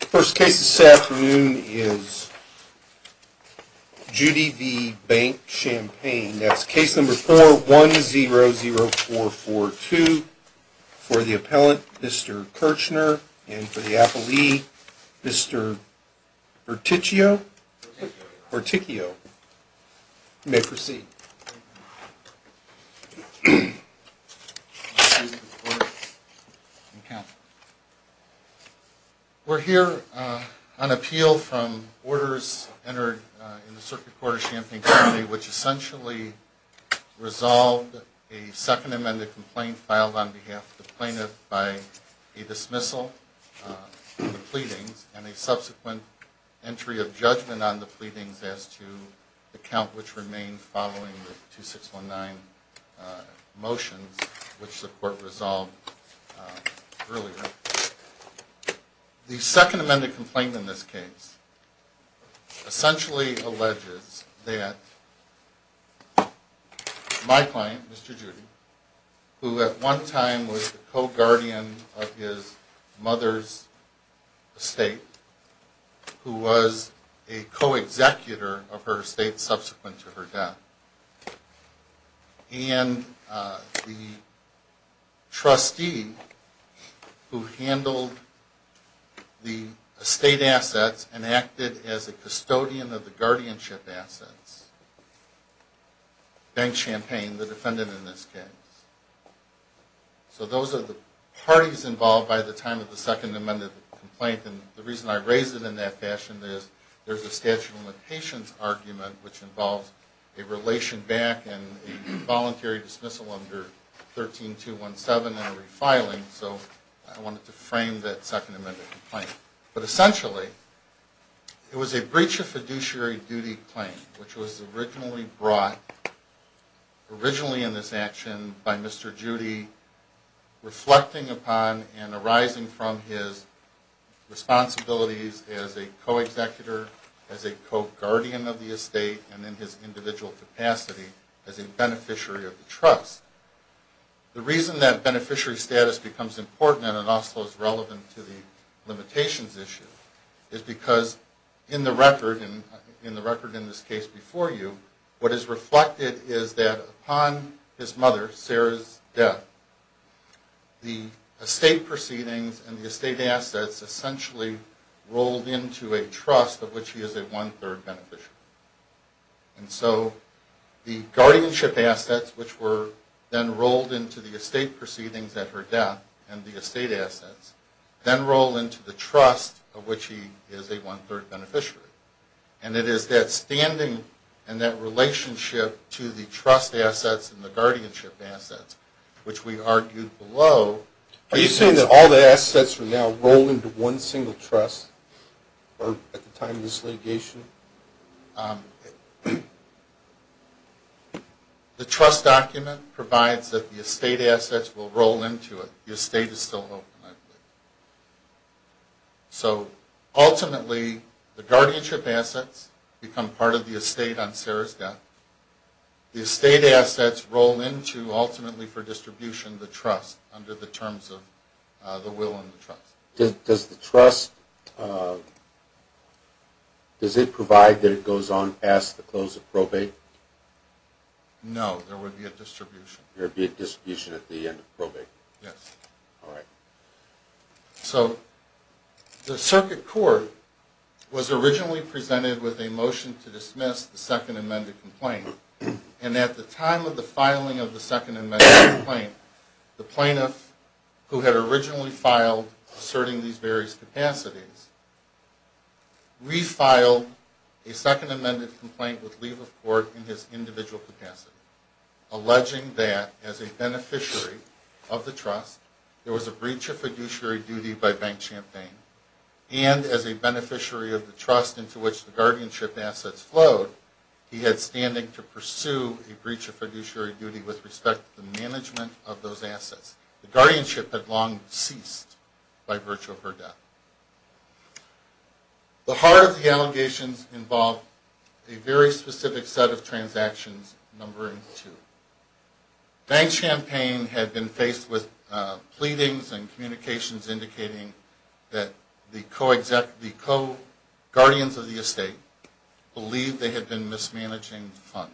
First case this afternoon is Judy v. Bank Champaign. That's case number 4100442 for the appellant, Mr. Kirchner, and for the appellee, Mr. Berticchio. Berticchio, you may proceed. We're here on appeal from orders entered in the Circuit Court of Champaign County which essentially resolved a second amended complaint filed on behalf of the plaintiff by a dismissal of the pleadings and a subsequent entry of judgment on the pleadings as to the count which remained following the 2619. The second amended complaint in this case essentially alleges that my client, Mr. Judy, who at one time was the co-guardian of his mother's estate, who was a co-executor of her estate subsequent to her death, and the trustee who handled the estate assets and acted as a custodian of the guardianship assets, Bank Champaign, the defendant in this case. So those are the parties involved by the time of the second amended complaint, and the reason I raised it in that fashion is there's a statute of limitations argument which involves a relation back and a voluntary dismissal under 13217 and a refiling, so I wanted to frame that second amended complaint. But essentially, it was a breach of fiduciary duty claim which was originally brought, originally in this action, by Mr. Judy reflecting upon and arising from his responsibilities as a co-executor, as a co-guardian of the estate, and in his individual capacity as a beneficiary of the trust. The reason that beneficiary status becomes important and also is relevant to the limitations issue is because in the record, in the record in this case before you, what is reflected is that upon his mother, Sarah's death, the estate proceedings and the estate assets essentially rolled into a trust of which he is a one-third beneficiary. And so the guardianship assets, which were then rolled into the estate proceedings at her death, and the estate assets, then roll into the trust of which he is a one-third beneficiary, and it is that standing and that relationship to the trust assets and the guardianship assets, which we argued below, Are you saying that all the assets for now roll into one single trust at the time of this litigation? The trust document provides that the estate assets will roll into it. The estate is still open, I believe. So ultimately, the guardianship assets become part of the estate on Sarah's death. The estate assets roll into, ultimately for distribution, the trust under the terms of the will and the trust. Does the trust, does it provide that it goes on past the close of probate? No, there would be a distribution. There would be a distribution at the end of probate? Yes. Alright. So, the circuit court was originally presented with a motion to dismiss the second amended complaint, and at the time of the filing of the second amended complaint, the plaintiff, who had originally filed asserting these various capacities, refiled a second amended complaint with Lieva Court in his individual capacity, alleging that, as a beneficiary of the trust, there was a breach of fiduciary duty by Bank Champagne, and as a beneficiary of the trust into which the guardianship assets flowed, he had standing to pursue a breach of fiduciary duty with respect to the management of those assets. The guardianship had long ceased by virtue of her death. The heart of the allegations involved a very specific set of transactions, number two. Bank Champagne had been faced with pleadings and communications indicating that the co-exec, the co-guardians of the estate believed they had been mismanaging funds.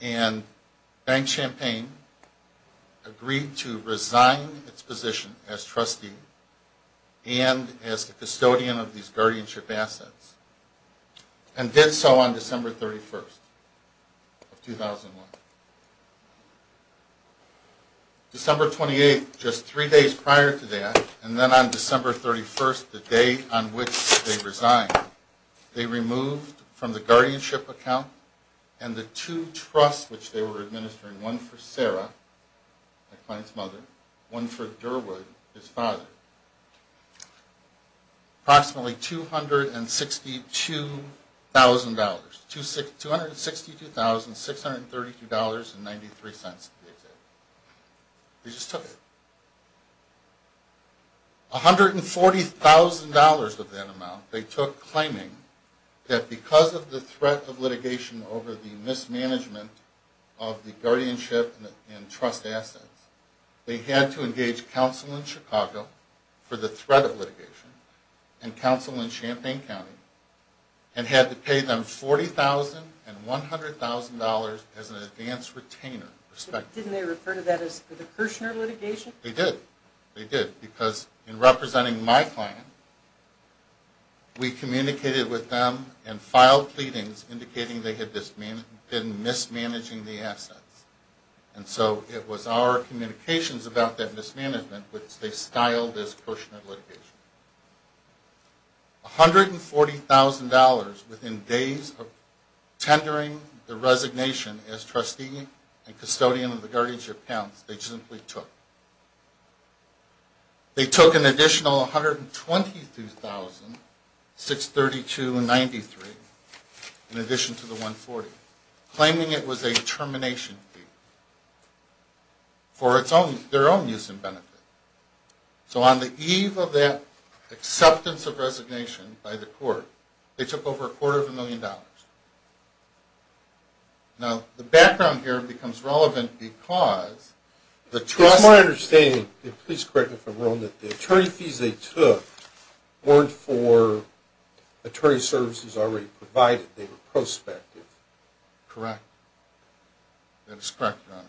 And Bank Champagne agreed to resign its position as trustee and as the custodian of these guardianship assets, and did so on December 31st of 2001. December 28th, just three days prior to that, and then on December 31st, the day on which they resigned, they removed from the guardianship account and the two trusts which they were administering, one for Sarah, my client's mother, one for Durwood, his father, approximately $262,000. $262,632.93, they said. They just took it. $140,000 of that amount they took claiming that because of the threat of litigation over the mismanagement of the guardianship and trust assets, they had to engage counsel in Chicago for the threat of litigation, and counsel in Champagne County, and had to pay them $40,000. $40,000 and $100,000 as an advanced retainer. Didn't they refer to that as the Kirshner litigation? They did. They did. Because in representing my client, we communicated with them and filed pleadings indicating they had been mismanaging the assets. And so it was our communications about that mismanagement which they styled as Kirshner litigation. $140,000 within days of tendering the resignation as trustee and custodian of the guardianship accounts, they simply took. They took an additional $122,632.93 in addition to the $140,000, claiming it was a termination fee for their own use and benefit. So on the eve of that acceptance of resignation by the court, they took over a quarter of a million dollars. Now, the background here becomes relevant because the trust... It's my understanding, and please correct me if I'm wrong, that the attorney fees they took weren't for attorney services already provided. They were prospective. Correct. That is correct, Your Honor.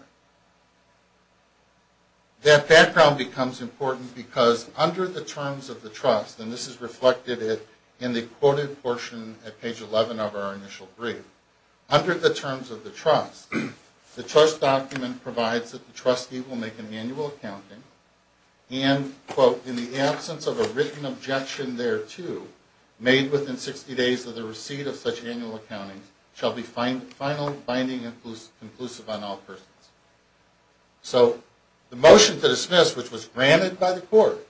That background becomes important because under the terms of the trust, and this is reflected in the quoted portion at page 11 of our initial brief, under the terms of the trust, the trust document provides that the trustee will make an annual accounting and, quote, So the motion to dismiss, which was granted by the court,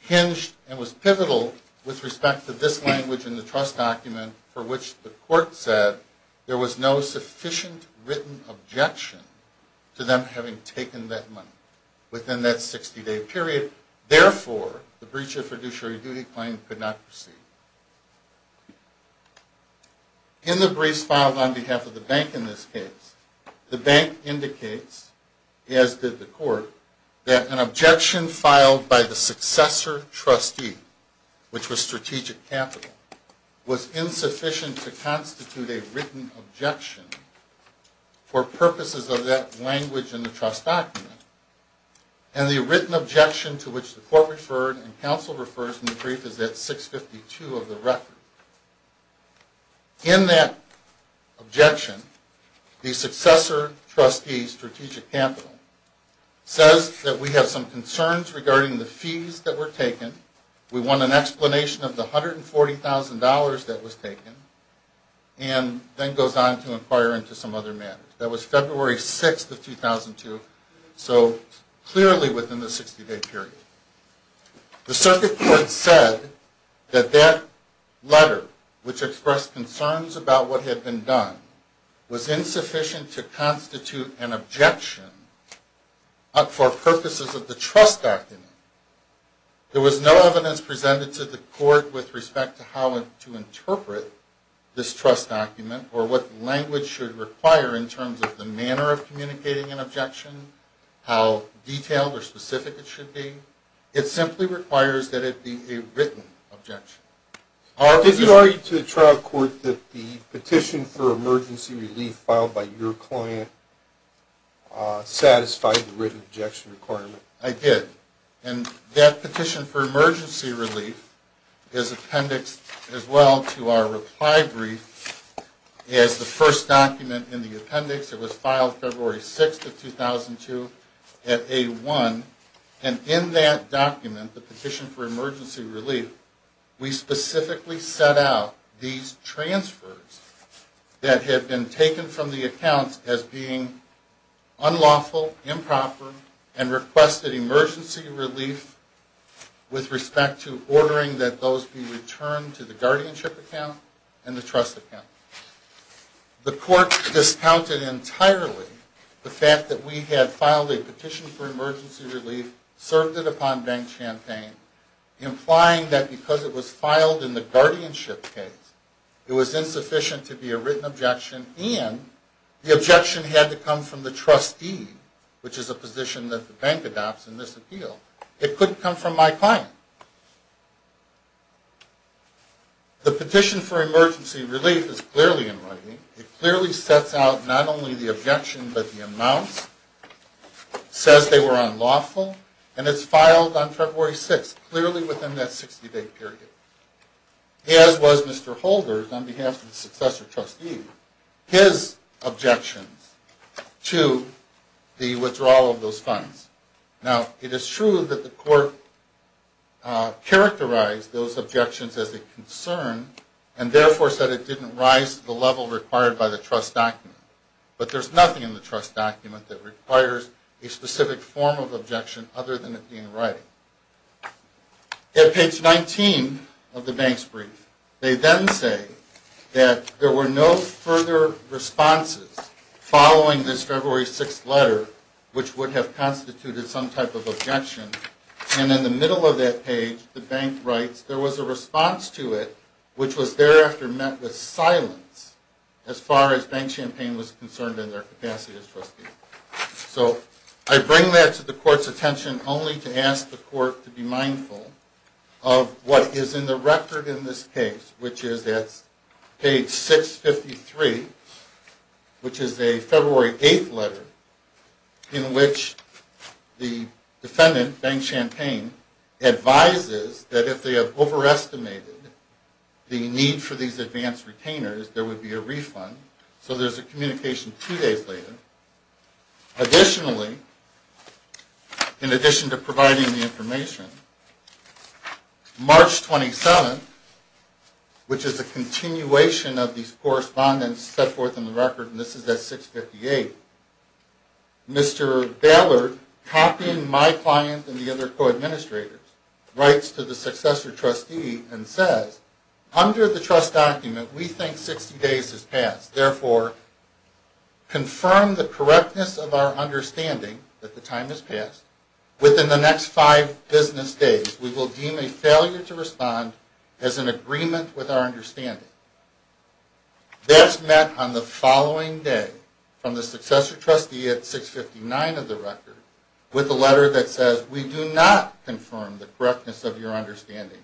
hinged and was pivotal with respect to this language in the trust document for which the court said there was no sufficient written objection to them having taken that money. Within that 60-day period, therefore, the breach of fiduciary duty claim could not proceed. In the briefs filed on behalf of the bank in this case, the bank indicates, as did the court, that an objection filed by the successor trustee, which was strategic capital, was insufficient to constitute a written objection for purposes of that language in the trust document. And the written objection to which the court referred and counsel referred in the brief is at 652 of the record. In that objection, the successor trustee, strategic capital, says that we have some concerns regarding the fees that were taken. We want an explanation of the $140,000 that was taken, and then goes on to inquire into some other matters. That was February 6th of 2002, so clearly within the 60-day period. The circuit court said that that letter, which expressed concerns about what had been done, was insufficient to constitute an objection for purposes of the trust document. There was no evidence presented to the court with respect to how to interpret this trust document or what language should require in terms of the manner of communicating an objection, how detailed or specific it should be. It simply requires that it be a written objection. Did you argue to the trial court that the petition for emergency relief filed by your client satisfied the written objection requirement? I did. And that petition for emergency relief is appendixed as well to our reply brief as the first document in the appendix. It was filed February 6th of 2002 at A1. And in that document, the petition for emergency relief, we specifically set out these transfers that had been taken from the accounts as being unlawful, improper, and requested emergency relief with respect to ordering that those be returned to the guardianship account and the trust account. The court discounted entirely the fact that we had filed a petition for emergency relief, served it upon Bank Champaign, implying that because it was filed in the guardianship case, it was insufficient to be a written objection and the objection had to come from the trustee, which is a position that the bank adopts in this appeal. It couldn't come from my client. The petition for emergency relief is clearly in writing. It clearly sets out not only the objection but the amounts, says they were unlawful, and it's filed on February 6th, clearly within that 60-day period, as was Mr. Holder's on behalf of the successor trustee, his objections to the withdrawal of those funds. Now, it is true that the court characterized those objections as a concern and therefore said it didn't rise to the level required by the trust document. But there's nothing in the trust document that requires a specific form of objection other than it being in writing. At page 19 of the bank's brief, they then say that there were no further responses following this February 6th letter which would have constituted some type of objection. And in the middle of that page, the bank writes, there was a response to it which was thereafter met with silence as far as Bank Champaign was concerned in their capacity as trustees. So I bring that to the court's attention only to ask the court to be mindful of what is in the record in this case, which is at page 653, which is a February 8th letter in which the defendant, Bank Champaign, advises that if they have overestimated the need for these advance retainers, there would be a refund. So there's a communication two days later. Additionally, in addition to providing the information, March 27th, which is a continuation of these correspondence set forth in the record, and this is at 658, Mr. Ballard, copying my client and the other co-administrators, writes to the successor trustee and says, under the trust document, we think 60 days has passed. Therefore, confirm the correctness of our understanding that the time has passed. Within the next five business days, we will deem a failure to respond as an agreement with our understanding. That's met on the following day from the successor trustee at 659 of the record with a letter that says, we do not confirm the correctness of your understanding.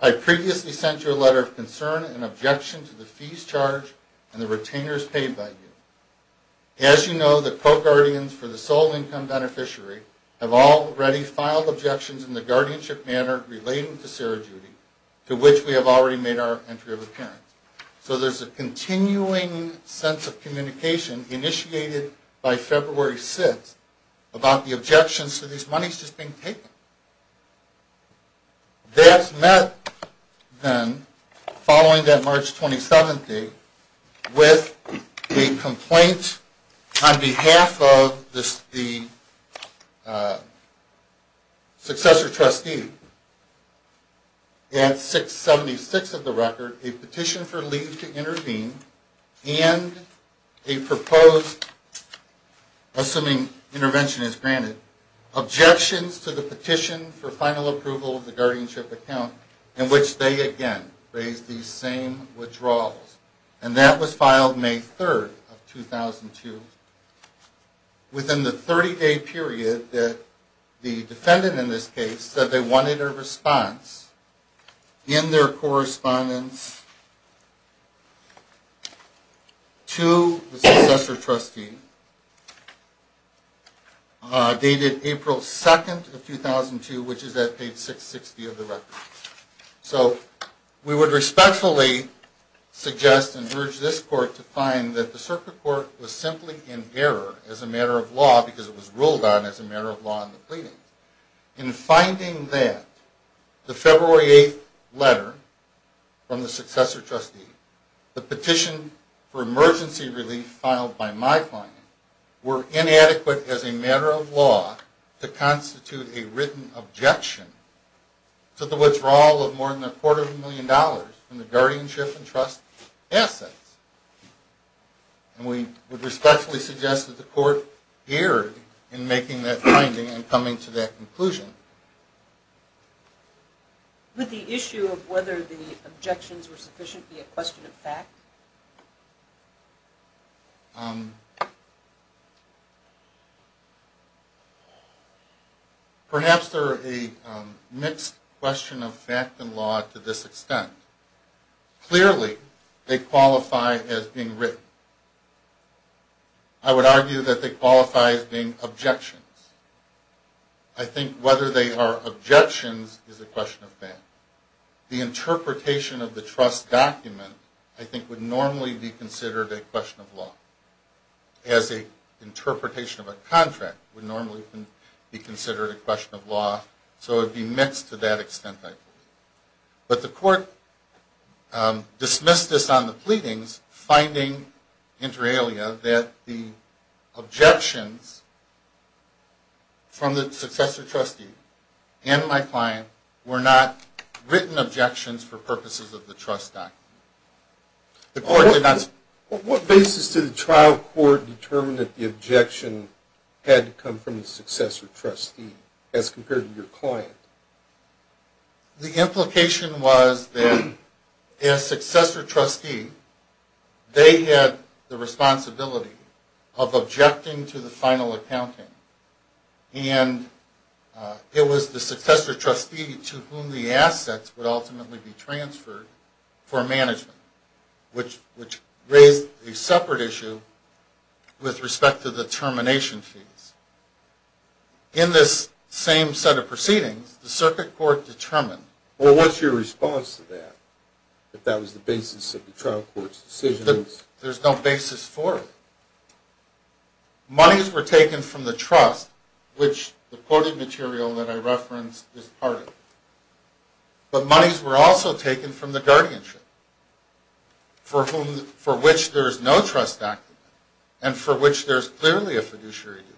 I previously sent you a letter of concern and objection to the fees charged and the retainers paid by you. As you know, the co-guardians for the sole income beneficiary have already filed objections in the guardianship manner relating to Sarah Judy, to which we have already made our entry of appearance. So there's a continuing sense of communication initiated by February 6th about the objections to these monies just being taken. That's met then, following that March 27th date, with a complaint on behalf of the successor trustee at 676 of the record, a petition for leave to intervene, and a proposed, assuming intervention is granted, objections to the petition for final approval of the guardianship account, in which they again raise these same withdrawals. And that was filed May 3rd of 2002. Within the 30-day period that the defendant in this case said they wanted a response in their correspondence to the successor trustee, dated April 2nd of 2002, which is at page 660 of the record. So we would respectfully suggest and urge this court to find that the circuit court was simply in error as a matter of law because it was ruled on as a matter of law in the pleadings. In finding that, the February 8th letter from the successor trustee, the petition for emergency relief filed by my client, were inadequate as a matter of law to constitute a written objection to the withdrawal of more than a quarter of a million dollars in the guardianship and trust assets. And we would respectfully suggest that the court erred in making that finding and coming to that conclusion. Would the issue of whether the objections were sufficient be a question of fact? Perhaps they're a mixed question of fact and law to this extent. Clearly, they qualify as being written. I would argue that they qualify as being objections. I think whether they are objections is a question of fact. The interpretation of the trust document, I think, would normally be considered a question of law, as the interpretation of a contract would normally be considered a question of law. So it would be mixed to that extent, I think. But the court dismissed this on the pleadings, finding, inter alia, that the objections from the successor trustee and my client were not written objections for purposes of the trust document. What basis did the trial court determine that the objection had to come from the successor trustee, as compared to your client? The implication was that as successor trustee, they had the responsibility of objecting to the final accounting. And it was the successor trustee to whom the assets would ultimately be transferred for management. Which raised a separate issue with respect to the termination fees. In this same set of proceedings, the circuit court determined... Well, what's your response to that, if that was the basis of the trial court's decision? There's no basis for it. Monies were taken from the trust, which the quoted material that I referenced is part of it. But monies were also taken from the guardianship, for which there is no trust document, and for which there is clearly a fiduciary duty.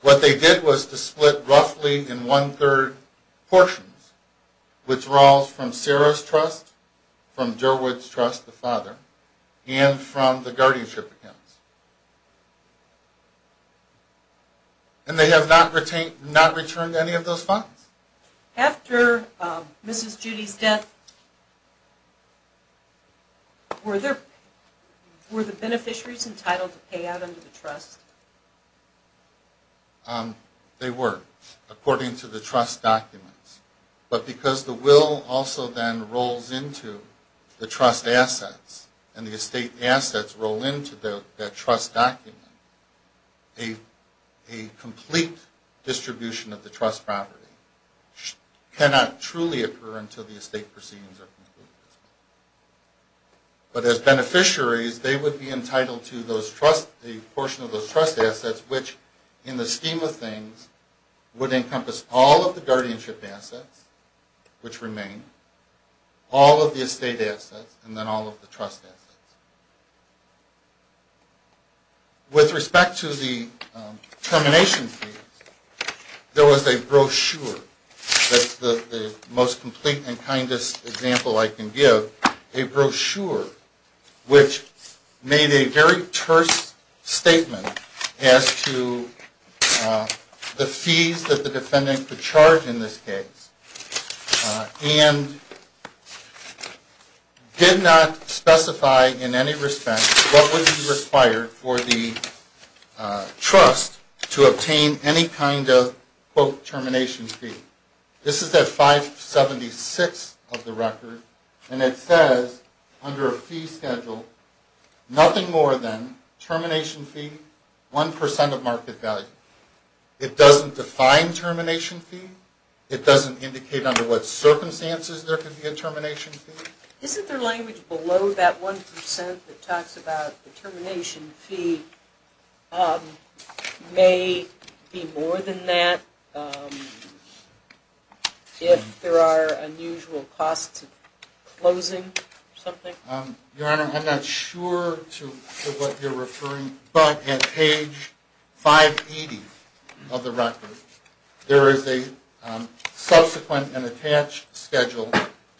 What they did was to split roughly in one-third portions, withdrawals from Sarah's trust, from Derwood's trust, the father, and from the guardianship accounts. And they have not returned any of those funds. After Mrs. Judy's death, were the beneficiaries entitled to pay out under the trust? They were, according to the trust documents. But because the will also then rolls into the trust assets, and the estate assets roll into that trust document, a complete distribution of the trust property cannot truly occur until the estate proceedings are completed. But as beneficiaries, they would be entitled to a portion of those trust assets, which in the scheme of things, would encompass all of the guardianship assets. Which remain. All of the estate assets, and then all of the trust assets. With respect to the termination fees, there was a brochure. That's the most complete and kindest example I can give. A brochure which made a very terse statement as to the fees that the defendant could charge in this case. And did not specify in any respect what would be required for the trust to obtain any kind of, quote, termination fee. This is at 576 of the record, and it says under a fee schedule, nothing more than termination fee, 1% of market value. It doesn't define termination fee. It doesn't indicate under what circumstances there could be a termination fee. Isn't there language below that 1% that talks about the termination fee may be more than that, if there are unusual costs of closing something? Your Honor, I'm not sure to what you're referring, but at page 580 of the record, there is a subsequent and attached schedule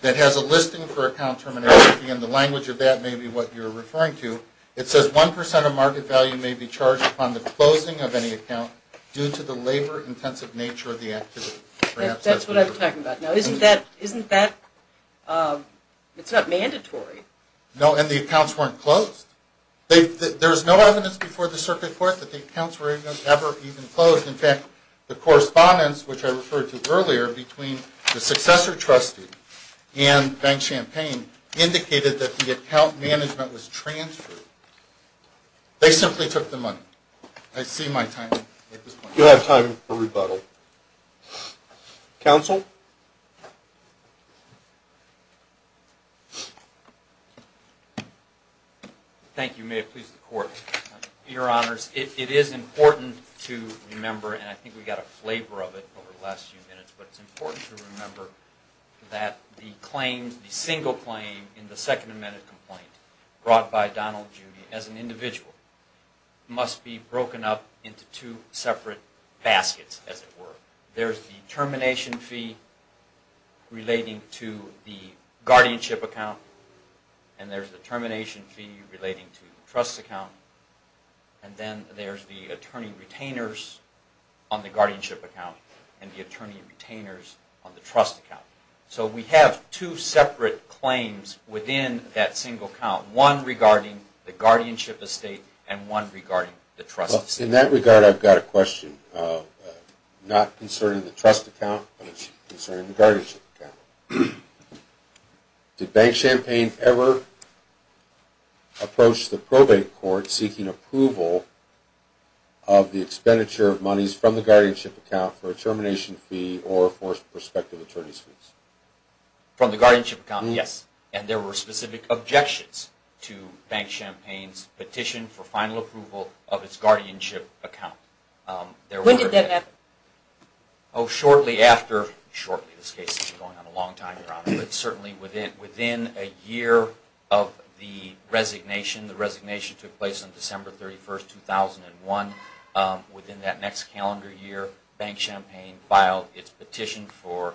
that has a listing for account termination fee, and the language of that may be what you're referring to. It says 1% of market value may be charged upon the closing of any account due to the labor intensive nature of the activity. That's what I'm talking about. Now, isn't that, it's not mandatory. No, and the accounts weren't closed. There was no evidence before the circuit court that the accounts were ever even closed. In fact, the correspondence which I referred to earlier between the successor trustee and Bank Champagne indicated that the account management was transferred. They simply took the money. I see my timing at this point. You'll have time for rebuttal. Counsel? Thank you. May it please the Court. Your Honors, it is important to remember, and I think we got a flavor of it over the last few minutes, but it's important to remember that the claims, the single claim in the Second Amendment complaint brought by Donald Judy as an individual must be broken up into two separate baskets, as it were. There's the termination fee relating to the guardianship account, and there's the termination fee relating to the trust account, and then there's the attorney retainers on the guardianship account and the attorney retainers on the trust account. So we have two separate claims within that single account, one regarding the guardianship estate and one regarding the trust estate. In that regard, I've got a question, not concerning the trust account, but concerning the guardianship account. Did Bank Champagne ever approach the probate court seeking approval of the expenditure of monies from the guardianship account for a termination fee or for prospective attorney's fees? From the guardianship account, yes. And there were specific objections to Bank Champagne's petition for final approval of its guardianship account. When did that happen? Shortly after. Shortly. This case has been going on a long time, Your Honor. Certainly within a year of the resignation. The resignation took place on December 31, 2001. Within that next calendar year, Bank Champagne filed its petition for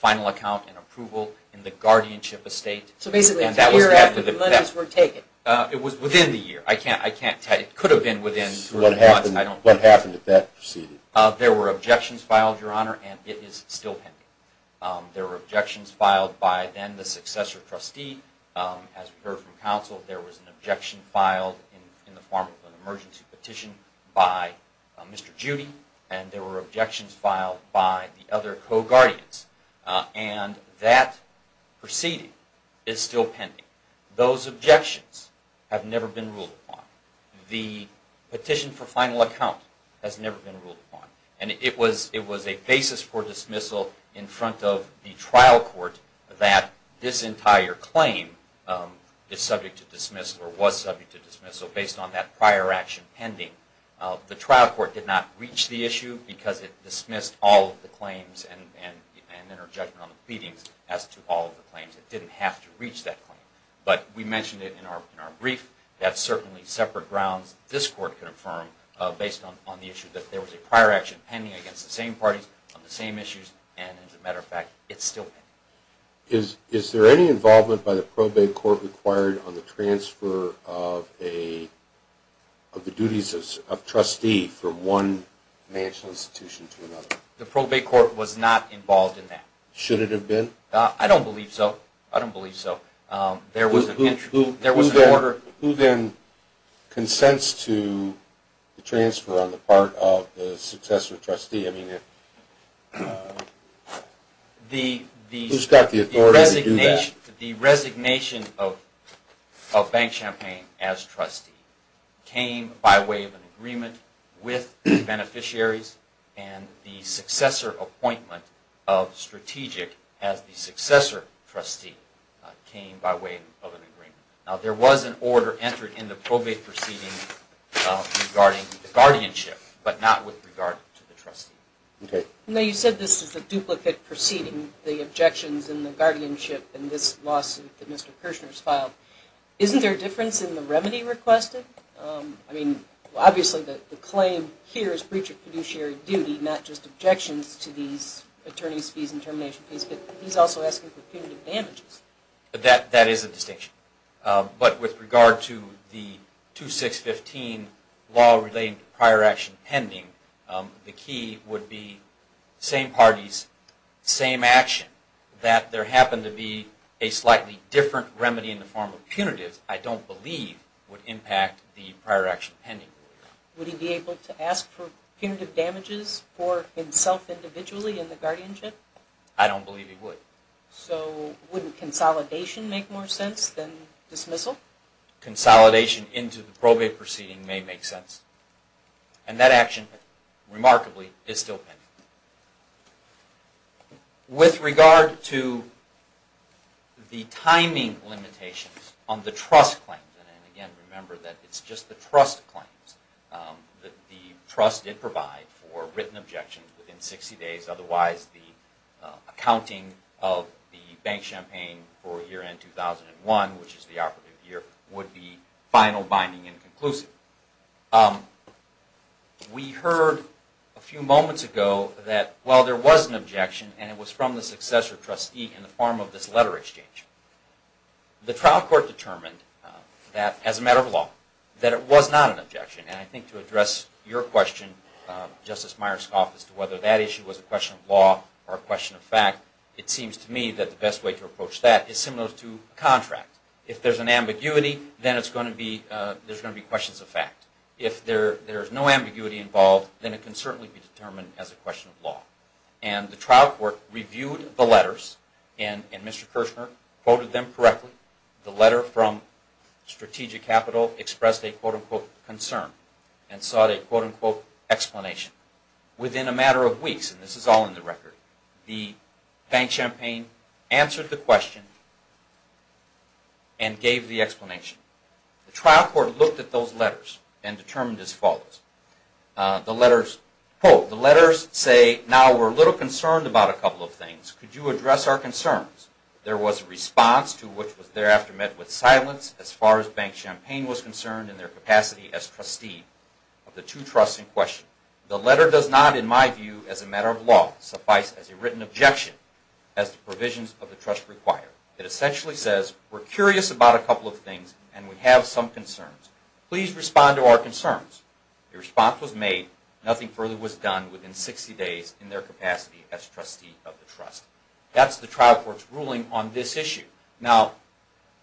final account and approval in the guardianship estate. So basically a year after the monies were taken. It was within the year. It could have been within three months. What happened at that proceeding? There were objections filed, Your Honor, and it is still pending. There were objections filed by then the successor trustee. As we heard from counsel, there was an objection filed in the form of an emergency petition by Mr. Judy. And there were objections filed by the other co-guardians. And that proceeding is still pending. Those objections have never been ruled upon. The petition for final account has never been ruled upon. And it was a basis for dismissal in front of the trial court that this entire claim is subject to dismissal or was subject to dismissal based on that prior action pending. The trial court did not reach the issue because it dismissed all of the claims and then her judgment on the pleadings as to all of the claims. It didn't have to reach that claim. But we mentioned it in our brief. That's certainly separate grounds this court can affirm based on the issue that there was a prior action pending against the same parties on the same issues. And as a matter of fact, it's still pending. Is there any involvement by the probate court required on the transfer of the duties of trustee from one national institution to another? Should it have been? I don't believe so. Who then consents to the transfer on the part of the successor trustee? Who's got the authority to do that? The resignation of Bank Champagne as trustee came by way of an agreement with the beneficiaries and the successor appointment of strategic as the successor trustee came by way of an agreement. There was an order entered in the probate proceeding regarding guardianship, but not with regard to the trustee. You said this is a duplicate proceeding, the objections in the guardianship in this lawsuit that Mr. Kirshner has filed. Isn't there a difference in the remedy requested? I mean, obviously the claim here is breach of fiduciary duty, not just objections to these attorney's fees and termination fees. But he's also asking for punitive damages. That is a distinction. But with regard to the 2615 law relating to prior action pending, the key would be same parties, same action. That there happened to be a slightly different remedy in the form of punitive, I don't believe would impact the prior action pending. Would he be able to ask for punitive damages for himself individually in the guardianship? I don't believe he would. So wouldn't consolidation make more sense than dismissal? Consolidation into the probate proceeding may make sense. And that action, remarkably, is still pending. With regard to the timing limitations on the trust claims, and again remember that it's just the trust claims, that the trust did provide for written objections within 60 days, otherwise the accounting of the bank champagne for year end 2001, which is the operative year, would be final, binding, and conclusive. We heard a few moments ago that while there was an objection, and it was from the successor trustee in the form of this letter exchange, the trial court determined that, as a matter of law, that it was not an objection. And I think to address your question, Justice Myerscough, as to whether that issue was a question of law or a question of fact, it seems to me that the best way to approach that is similar to a contract. If there's an ambiguity, then there's going to be questions of fact. If there's no ambiguity involved, then it can certainly be determined as a question of law. And the trial court reviewed the letters, and Mr. Kirshner quoted them correctly. The letter from Strategic Capital expressed a, quote-unquote, concern and sought a, quote-unquote, explanation. Within a matter of weeks, and this is all in the record, the bank champagne answered the question and gave the explanation. The trial court looked at those letters and determined as follows. The letters, quote, the letters say, now we're a little concerned about a couple of things. Could you address our concerns? There was a response to which was thereafter met with silence as far as bank champagne was concerned in their capacity as trustee of the two trusts in question. The letter does not, in my view, as a matter of law, suffice as a written objection as the provisions of the trust require. It essentially says, we're curious about a couple of things, and we have some concerns. Please respond to our concerns. The response was made. Nothing further was done within 60 days in their capacity as trustee of the trust. That's the trial court's ruling on this issue. Now,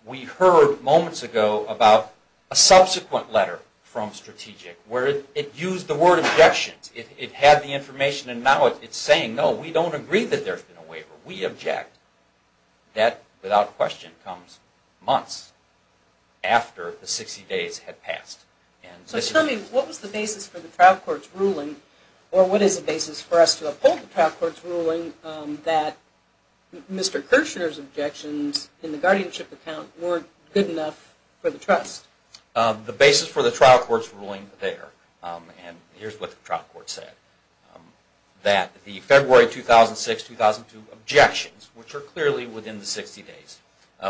we heard moments ago about a subsequent letter from Strategic where it used the word objections. It had the information, and now it's saying, no, we don't agree that there's been a waiver. We object. That, without question, comes months after the 60 days had passed. So tell me, what was the basis for the trial court's ruling, or what is the basis for us to uphold the trial court's ruling, that Mr. Kirchner's objections in the guardianship account weren't good enough for the trust? The basis for the trial court's ruling there, and here's what the trial court said, that the February 2006-2002 objections, which are clearly within the 60 days,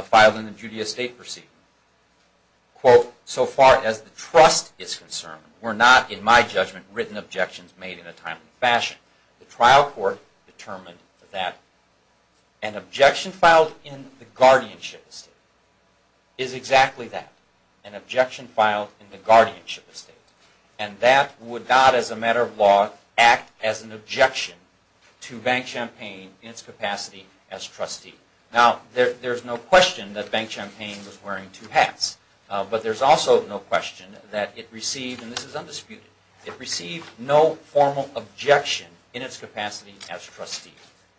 filed in the Judea State proceeding, quote, so far as the trust is concerned, were not, in my judgment, written objections made in a timely fashion. The trial court determined that an objection filed in the guardianship estate is exactly that. An objection filed in the guardianship estate. And that would not, as a matter of law, act as an objection to Bank Champaign in its capacity as trustee. Now, there's no question that Bank Champaign was wearing two hats, but there's also no question that it received, and this is undisputed, it received no formal objection in its capacity as trustee.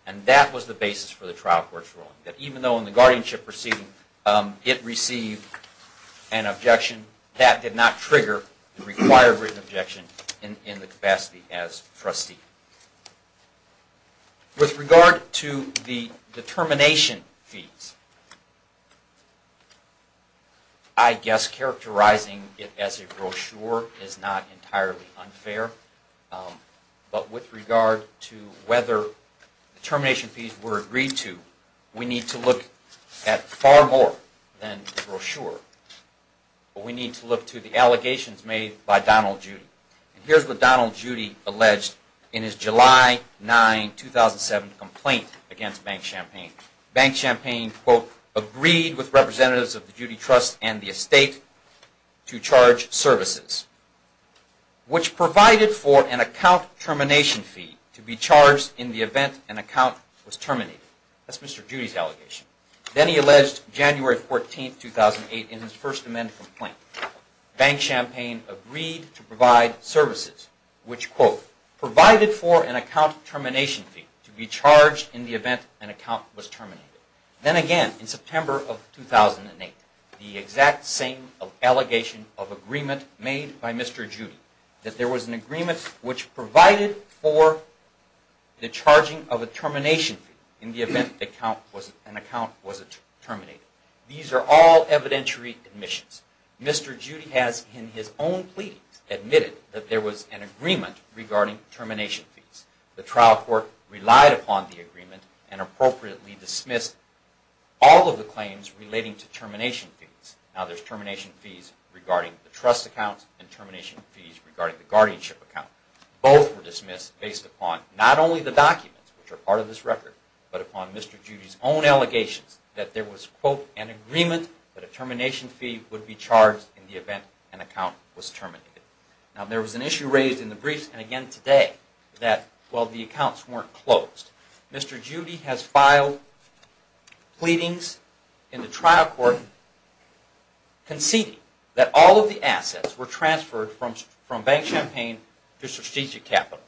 And that was the basis for the trial court's ruling, that even though in the guardianship proceeding it received an objection, that did not trigger the required written objection in the capacity as trustee. With regard to the determination fees, I guess characterizing it as a brochure is not entirely unfair, but with regard to whether determination fees were agreed to, we need to look at far more than the brochure. We need to look to the allegations made by Donald Judy. Here's what Donald Judy alleged in his July 9, 2007 complaint against Bank Champaign. Bank Champaign, quote, agreed with representatives of the Judy Trust and the estate to charge services, which provided for an account termination fee to be charged in the event an account was terminated. That's Mr. Judy's allegation. Then he alleged January 14, 2008, in his First Amendment complaint, Bank Champaign agreed to provide services which, quote, provided for an account termination fee to be charged in the event an account was terminated. Then again, in September of 2008, the exact same allegation of agreement made by Mr. Judy, that there was an agreement which provided for the charging of a termination fee in the event an account was terminated. These are all evidentiary admissions. Mr. Judy has, in his own pleadings, admitted that there was an agreement regarding termination fees. The trial court relied upon the agreement and appropriately dismissed all of the claims relating to termination fees. Now there's termination fees regarding the trust account and termination fees regarding the guardianship account. Both were dismissed based upon not only the documents, which are part of this record, but upon Mr. Judy's own allegations that there was, quote, an agreement that a termination fee would be charged in the event an account was terminated. Now there was an issue raised in the briefs, and again today, that, well, the accounts weren't closed. Mr. Judy has filed pleadings in the trial court conceding that all of the assets were transferred from Bank Champaign to Strategic Capital.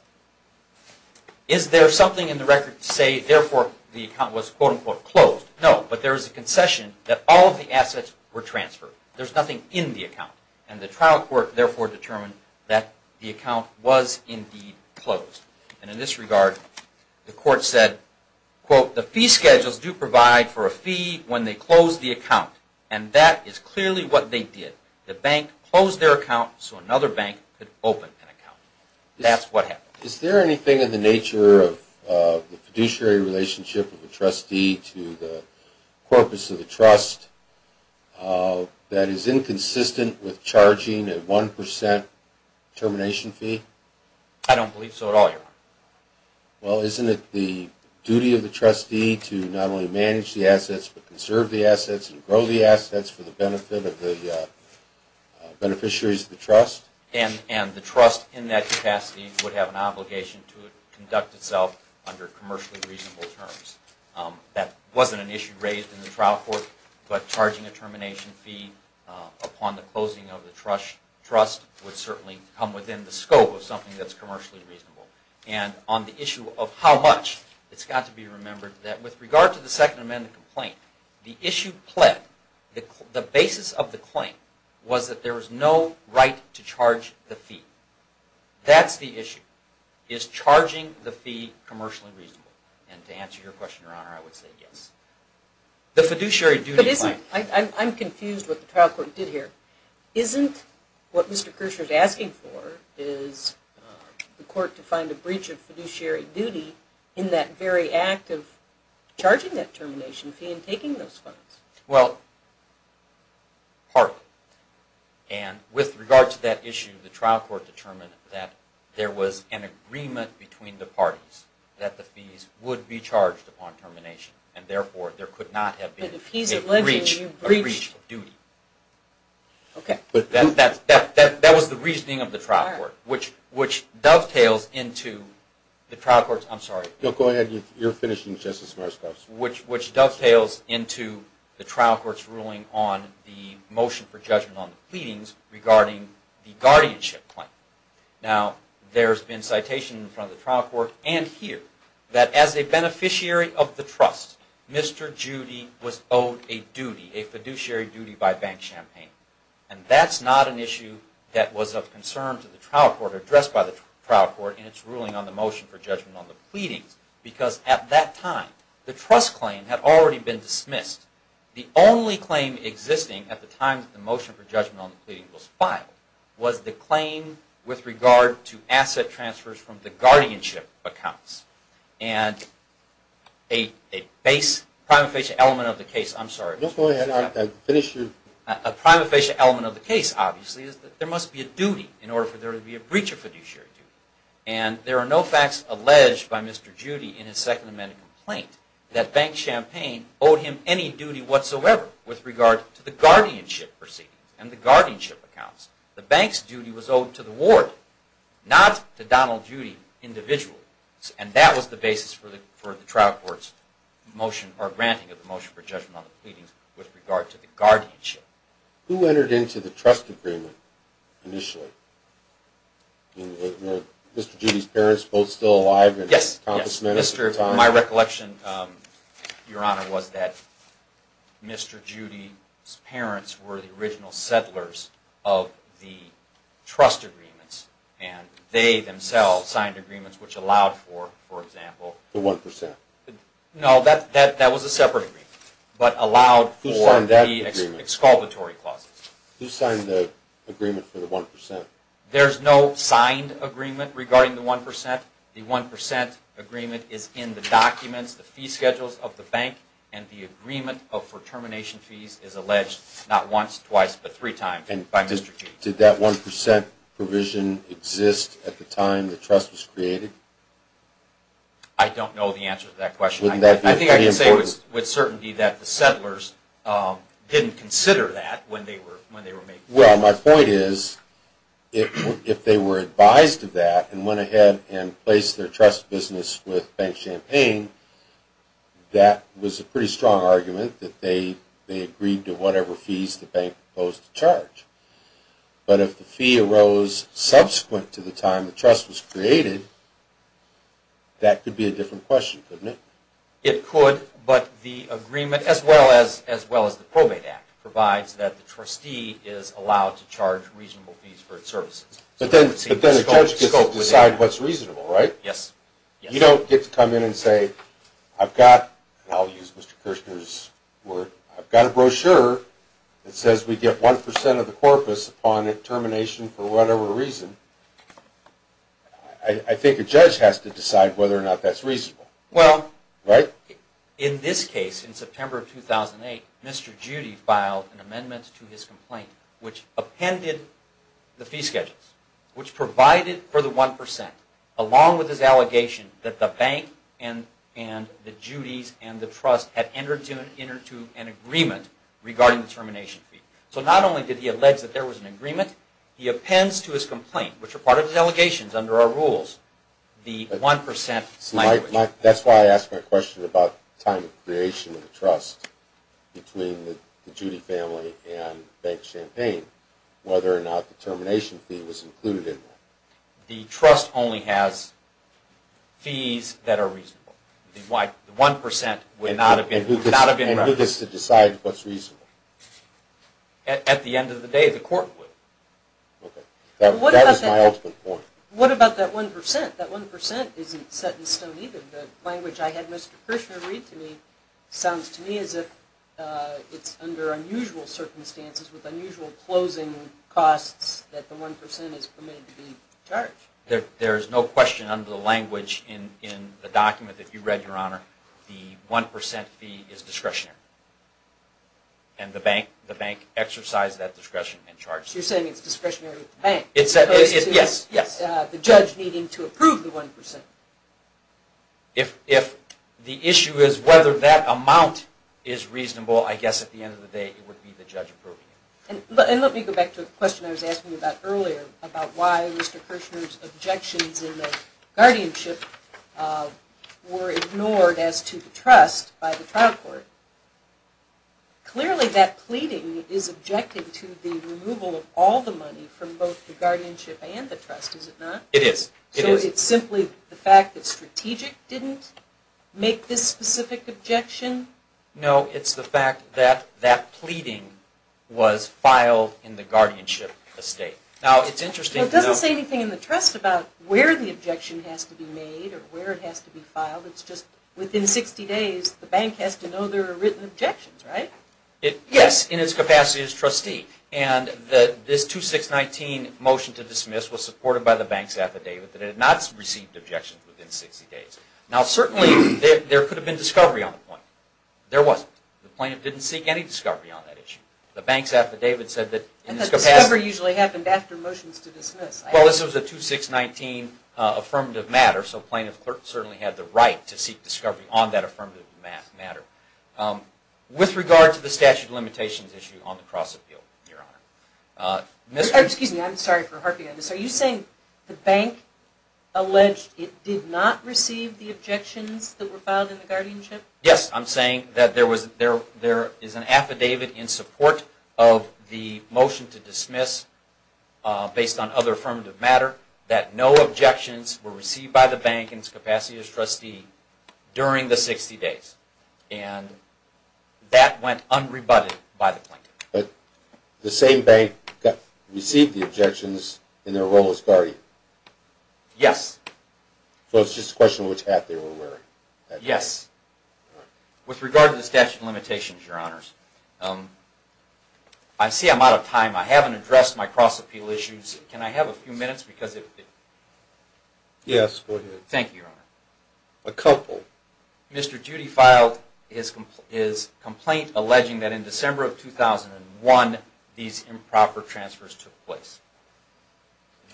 Is there something in the record to say, therefore, the account was, quote, unquote, closed? No, but there is a concession that all of the assets were transferred. There's nothing in the account. And the trial court, therefore, determined that the account was indeed closed. And in this regard, the court said, quote, the fee schedules do provide for a fee when they close the account. And that is clearly what they did. The bank closed their account so another bank could open an account. That's what happened. Is there anything in the nature of the fiduciary relationship of the trustee to the corpus of the trust that is inconsistent with charging a 1% termination fee? I don't believe so at all, Your Honor. Well, isn't it the duty of the trustee to not only manage the assets but conserve the assets and grow the assets for the benefit of the beneficiaries of the trust? And the trust in that capacity would have an obligation to conduct itself under commercially reasonable terms. That wasn't an issue raised in the trial court, but charging a termination fee upon the closing of the trust would certainly come within the scope of something that's commercially reasonable. And on the issue of how much, it's got to be remembered that with regard to the Second Amendment complaint, the issue pled, the basis of the claim was that there was no right to charge the fee. That's the issue. Is charging the fee commercially reasonable? And to answer your question, Your Honor, I would say yes. The fiduciary duty claim. I'm confused with what the trial court did here. Isn't what Mr. Kircher is asking for is the court to find a breach of fiduciary duty in that very act of charging that termination fee and taking those funds? Well, part of it. And with regard to that issue, the trial court determined that there was an agreement between the parties that the fees would be charged upon termination. And therefore, there could not have been a breach of duty. Okay. That was the reasoning of the trial court, which dovetails into the trial court's ruling on the motion for judgment on the pleadings regarding the guardianship claim. Now, there's been citation in front of the trial court and here that as a beneficiary of the trust, Mr. Judy was owed a fiduciary duty by Bank Champaign. And that's not an issue that was of concern to the trial court, addressed by the trial court in its ruling on the motion for judgment on the pleadings, because at that time, the trust claim had already been dismissed. The only claim existing at the time that the motion for judgment on the pleadings was filed was the claim with regard to asset transfers from the guardianship accounts. And a base, prima facie element of the case, I'm sorry. Go ahead, I'll finish you. A prima facie element of the case, obviously, is that there must be a duty in order for there to be a breach of fiduciary duty. And there are no facts alleged by Mr. Judy in his Second Amendment complaint that Bank Champaign owed him any duty whatsoever with regard to the guardianship proceedings and the guardianship accounts. The bank's duty was owed to the ward, not to Donald Judy individually. And that was the basis for the trial court's granting of the motion for judgment on the pleadings with regard to the guardianship. Who entered into the trust agreement initially? Mr. Judy's parents, both still alive? Yes. My recollection, Your Honor, was that Mr. Judy's parents were the original settlers of the trust agreements, and they themselves signed agreements which allowed for, for example... The 1%. No, that was a separate agreement, but allowed for the exculpatory clauses. Who signed the agreement for the 1%? There's no signed agreement regarding the 1%. The 1% agreement is in the documents, the fee schedules of the bank, and the agreement for termination fees is alleged not once, twice, but three times by Mr. Judy. Did that 1% provision exist at the time the trust was created? I don't know the answer to that question. I think I can say with certainty that the settlers didn't consider that when they were making the agreement. Well, my point is, if they were advised of that, and went ahead and placed their trust business with Bank Champaign, that was a pretty strong argument that they agreed to whatever fees the bank proposed to charge. But if the fee arose subsequent to the time the trust was created, that could be a different question, couldn't it? It could, but the agreement, as well as the Probate Act, provides that the trustee is allowed to charge reasonable fees for its services. But then a judge gets to decide what's reasonable, right? Yes. You don't get to come in and say, I've got, and I'll use Mr. Kirshner's word, I've got a brochure that says we get 1% of the corpus upon termination for whatever reason. I think a judge has to decide whether or not that's reasonable. Well, in this case, in September of 2008, Mr. Judy filed an amendment to his complaint, which appended the fee schedules, which provided for the 1%, along with his allegation that the bank and the Judys and the trust had entered into an agreement regarding the termination fee. So not only did he allege that there was an agreement, he appends to his complaint, which are part of his allegations under our rules, That's why I asked my question about time of creation of the trust between the Judy family and Bank Champaign, whether or not the termination fee was included in that. The trust only has fees that are reasonable. The 1% would not have been referenced. And who gets to decide what's reasonable? At the end of the day, the court would. That was my ultimate point. What about that 1%? That 1% isn't set in stone either. The language I had Mr. Kirshner read to me sounds to me as if it's under unusual circumstances with unusual closing costs that the 1% is permitted to be charged. There is no question under the language in the document that you read, Your Honor, the 1% fee is discretionary. And the bank exercised that discretion and charged it. So you're saying it's discretionary with the bank, as opposed to the judge needing to approve the 1%. If the issue is whether that amount is reasonable, I guess at the end of the day it would be the judge approving it. And let me go back to the question I was asking you about earlier about why Mr. Kirshner's objections in the guardianship were ignored as to the trust by the trial court. Clearly that pleading is objected to the removal of all the money from both the guardianship and the trust, is it not? It is. So it's simply the fact that Strategic didn't make this specific objection? No, it's the fact that that pleading was filed in the guardianship estate. Now, it's interesting to note... It doesn't say anything in the trust about where the objection has to be made or where it has to be filed. It's just within 60 days the bank has to know there are written objections, right? Yes, in its capacity as trustee. And this 2619 motion to dismiss was supported by the bank's affidavit that it had not received objections within 60 days. Now, certainly there could have been discovery on the point. There wasn't. The plaintiff didn't seek any discovery on that issue. The bank's affidavit said that... And the discovery usually happened after motions to dismiss. Well, this was a 2619 affirmative matter, so plaintiff certainly had the right to seek discovery on that affirmative matter. With regard to the statute of limitations issue on the cross-appeal, Your Honor... Excuse me, I'm sorry for harping on this. Are you saying the bank alleged it did not receive the objections that were filed in the guardianship? Yes, I'm saying that there is an affidavit in support of the motion to dismiss based on other affirmative matter that no objections were received by the bank in its capacity as trustee during the 60 days. And that went unrebutted by the plaintiff. But the same bank received the objections in their role as guardian? Yes. So it's just a question of which hat they were wearing? Yes. With regard to the statute of limitations, Your Honors... I see I'm out of time. I haven't addressed my cross-appeal issues. Can I have a few minutes? Yes, go ahead. Thank you, Your Honor. A couple. Mr. Judy filed his complaint alleging that in December of 2001 these improper transfers took place.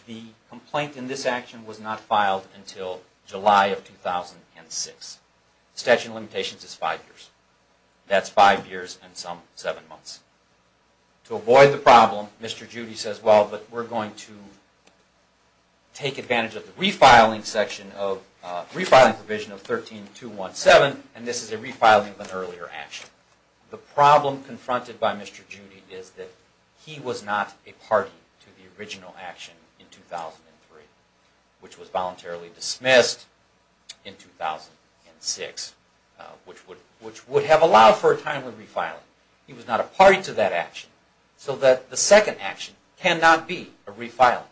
The complaint in this action was not filed until July of 2006. The statute of limitations is five years. That's five years and some seven months. To avoid the problem, Mr. Judy says, well, but we're going to take advantage of the refiling provision of 13217, and this is a refiling of an earlier action. The problem confronted by Mr. Judy is that he was not a party to the original action in 2003, which was voluntarily dismissed in 2006, which would have allowed for a timely refiling. He was not a party to that action, so that the second action cannot be a refiling.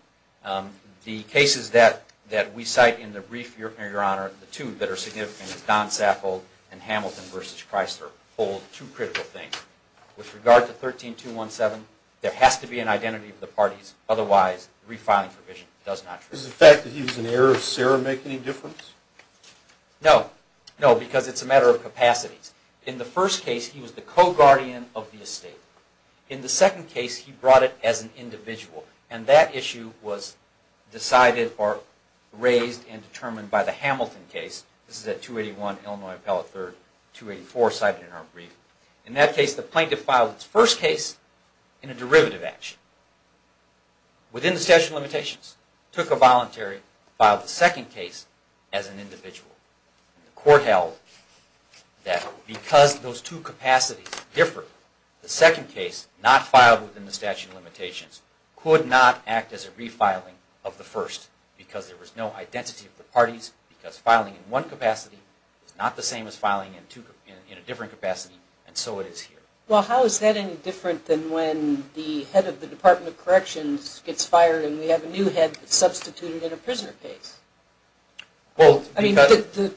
The cases that we cite in the brief, Your Honor, the two that are significant is Don Sappold and Hamilton v. Chrysler hold two critical things. With regard to 13217, there has to be an identity of the parties. Otherwise, the refiling provision does not trust. Does the fact that he was an heir of Sarah make any difference? No. No, because it's a matter of capacities. In the first case, he was the co-guardian of the estate. In the second case, he brought it as an individual, and that issue was decided or raised and determined by the Hamilton case. This is at 281 Illinois Appellate 3rd, 284 cited in our brief. In that case, the plaintiff filed its first case in a derivative action, within the statute of limitations, took a voluntary, filed the second case as an individual. The court held that because those two capacities differed, the second case, not filed within the statute of limitations, could not act as a refiling of the first because there was no identity of the parties, because filing in one capacity is not the same as filing in a different capacity, and so it is here. Well, how is that any different than when the head of the Department of Corrections gets fired and we have a new head substituted in a prisoner case? I mean,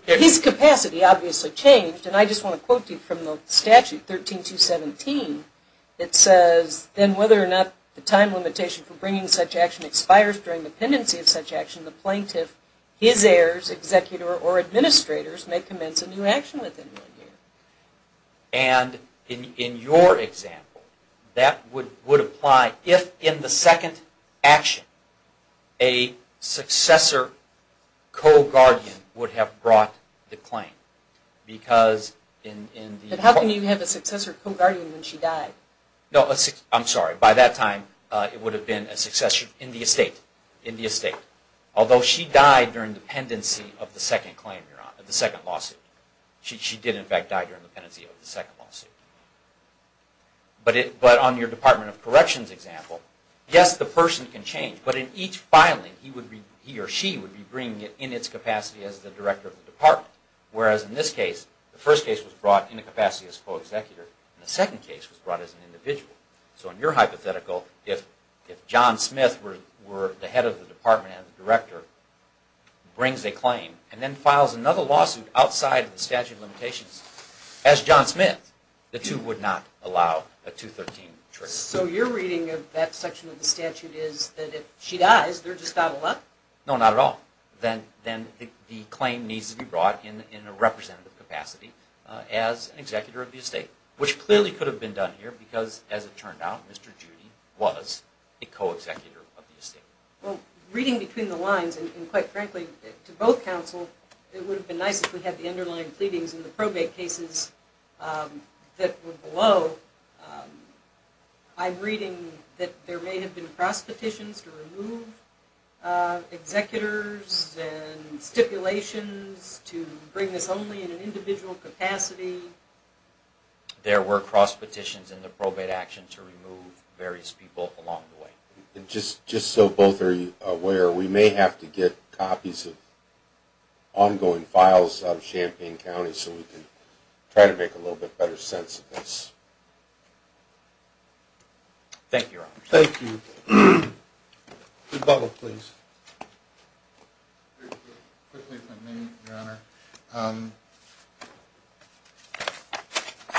his capacity obviously changed, and I just want to quote you from the statute, 13217. It says, then whether or not the time limitation for bringing such action expires during the pendency of such action, the plaintiff, his heirs, executor, or administrators may commence a new action within one year. And in your example, that would apply if in the second action, a successor co-guardian would have brought the claim. But how can you have a successor co-guardian when she died? No, I'm sorry. By that time, it would have been a successor in the estate. Although she died during the pendency of the second lawsuit. She did, in fact, die during the pendency of the second lawsuit. But on your Department of Corrections example, yes, the person can change, but in each filing, he or she would be bringing it in its capacity as the director of the department. Whereas in this case, the first case was brought in a capacity as co-executor, and the second case was brought as an individual. So in your hypothetical, if John Smith were the head of the department and the director, brings a claim, and then files another lawsuit outside of the statute of limitations, as John Smith, the two would not allow a 213 trick. So your reading of that section of the statute is that if she dies, they're just bottled up? No, not at all. Then the claim needs to be brought in a representative capacity as an executor of the estate, which clearly could have been done here because, as it turned out, Mr. Judy was a co-executor of the estate. Well, reading between the lines, and quite frankly, to both counsel, it would have been nice if we had the underlying pleadings in the probate cases that were below. I'm reading that there may have been cross-petitions to remove executors and stipulations to bring this only in an individual capacity. There were cross-petitions in the probate action to remove various people along the way. Just so both are aware, we may have to get copies of ongoing files out of Champaign County so we can try to make a little bit better sense of this. Thank you, Your Honor. Rebuttal, please. Quickly, if I may, Your Honor.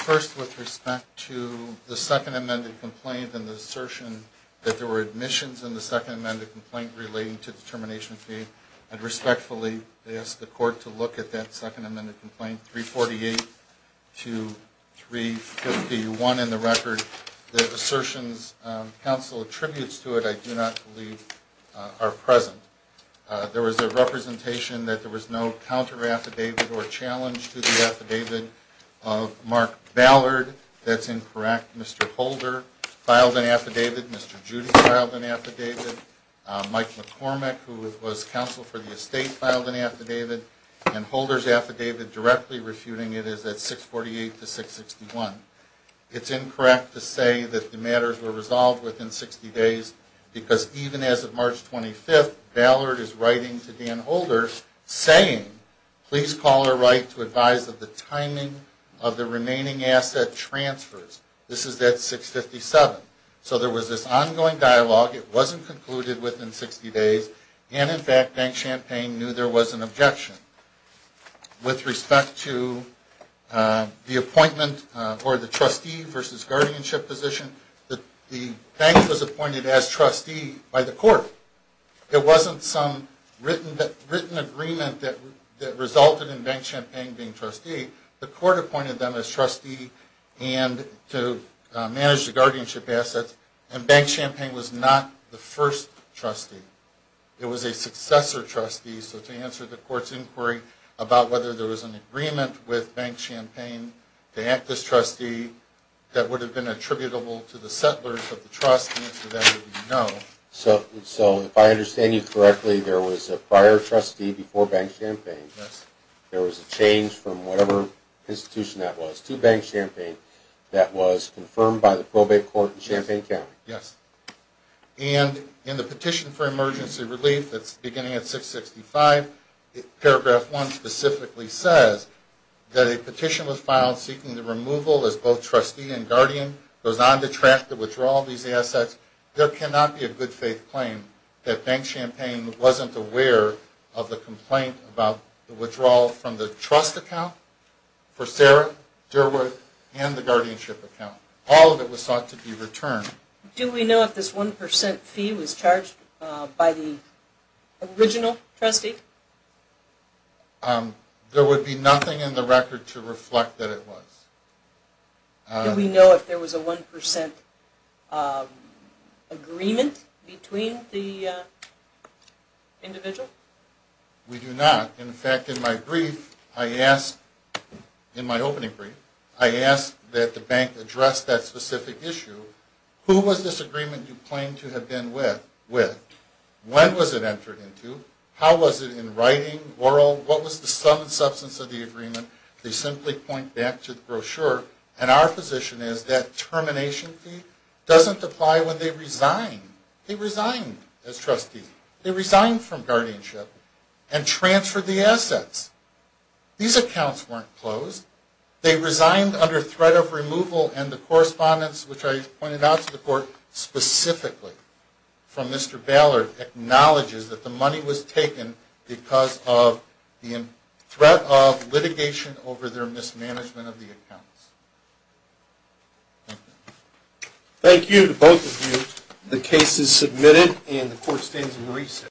First, with respect to the second amended complaint and the assertion that there were admissions in the second amended complaint relating to the termination fee, I'd respectfully ask the court to look at that second amended complaint, 348-351, in the record. The assertions counsel attributes to it I do not believe are present. There was a representation that there was no counter-affidavit or challenge to the affidavit of Mark Ballard. That's incorrect. Mr. Holder filed an affidavit. Mr. Judy filed an affidavit. Mike McCormick, who was counsel for the estate, filed an affidavit. And Holder's affidavit directly refuting it is at 648-661. It's incorrect to say that the matters were resolved within 60 days because even as of March 25th, Ballard is writing to Dan Holder saying, please call or write to advise of the timing of the remaining asset transfers. This is at 657. So there was this ongoing dialogue. It wasn't concluded within 60 days. And, in fact, Bank Champaign knew there was an objection. With respect to the appointment for the trustee versus guardianship position, the bank was appointed as trustee by the court. It wasn't some written agreement that resulted in Bank Champaign being trustee. The court appointed them as trustee to manage the guardianship assets, and Bank Champaign was not the first trustee. It was a successor trustee. So to answer the court's inquiry about whether there was an agreement with Bank Champaign to act as trustee that would have been attributable to the settlers of the trust, the answer to that would be no. So if I understand you correctly, there was a prior trustee before Bank Champaign. Yes. There was a change from whatever institution that was to Bank Champaign that was confirmed by the probate court in Champaign County. Yes. And in the petition for emergency relief that's beginning at 665, paragraph 1 specifically says that a petition was filed seeking the removal as both trustee and guardian. It goes on to track the withdrawal of these assets. There cannot be a good-faith claim that Bank Champaign wasn't aware of the complaint about the withdrawal from the trust account for Sarah Derwood and the guardianship account. All of it was thought to be returned. Do we know if this 1% fee was charged by the original trustee? There would be nothing in the record to reflect that it was. Do we know if there was a 1% agreement between the individual? We do not. In fact, in my opening brief, I asked that the bank address that specific issue. Who was this agreement you claim to have been with? When was it entered into? How was it in writing, oral? What was the sum and substance of the agreement? They simply point back to the brochure, and our position is that termination fee doesn't apply when they resign. They resign as trustees. They resign from guardianship and transfer the assets. These accounts weren't closed. They resigned under threat of removal and the correspondence, which I pointed out to the court specifically from Mr. Ballard, acknowledges that the money was taken because of the threat of litigation over their mismanagement of the accounts. Thank you to both of you. The case is submitted, and the court stands in recess.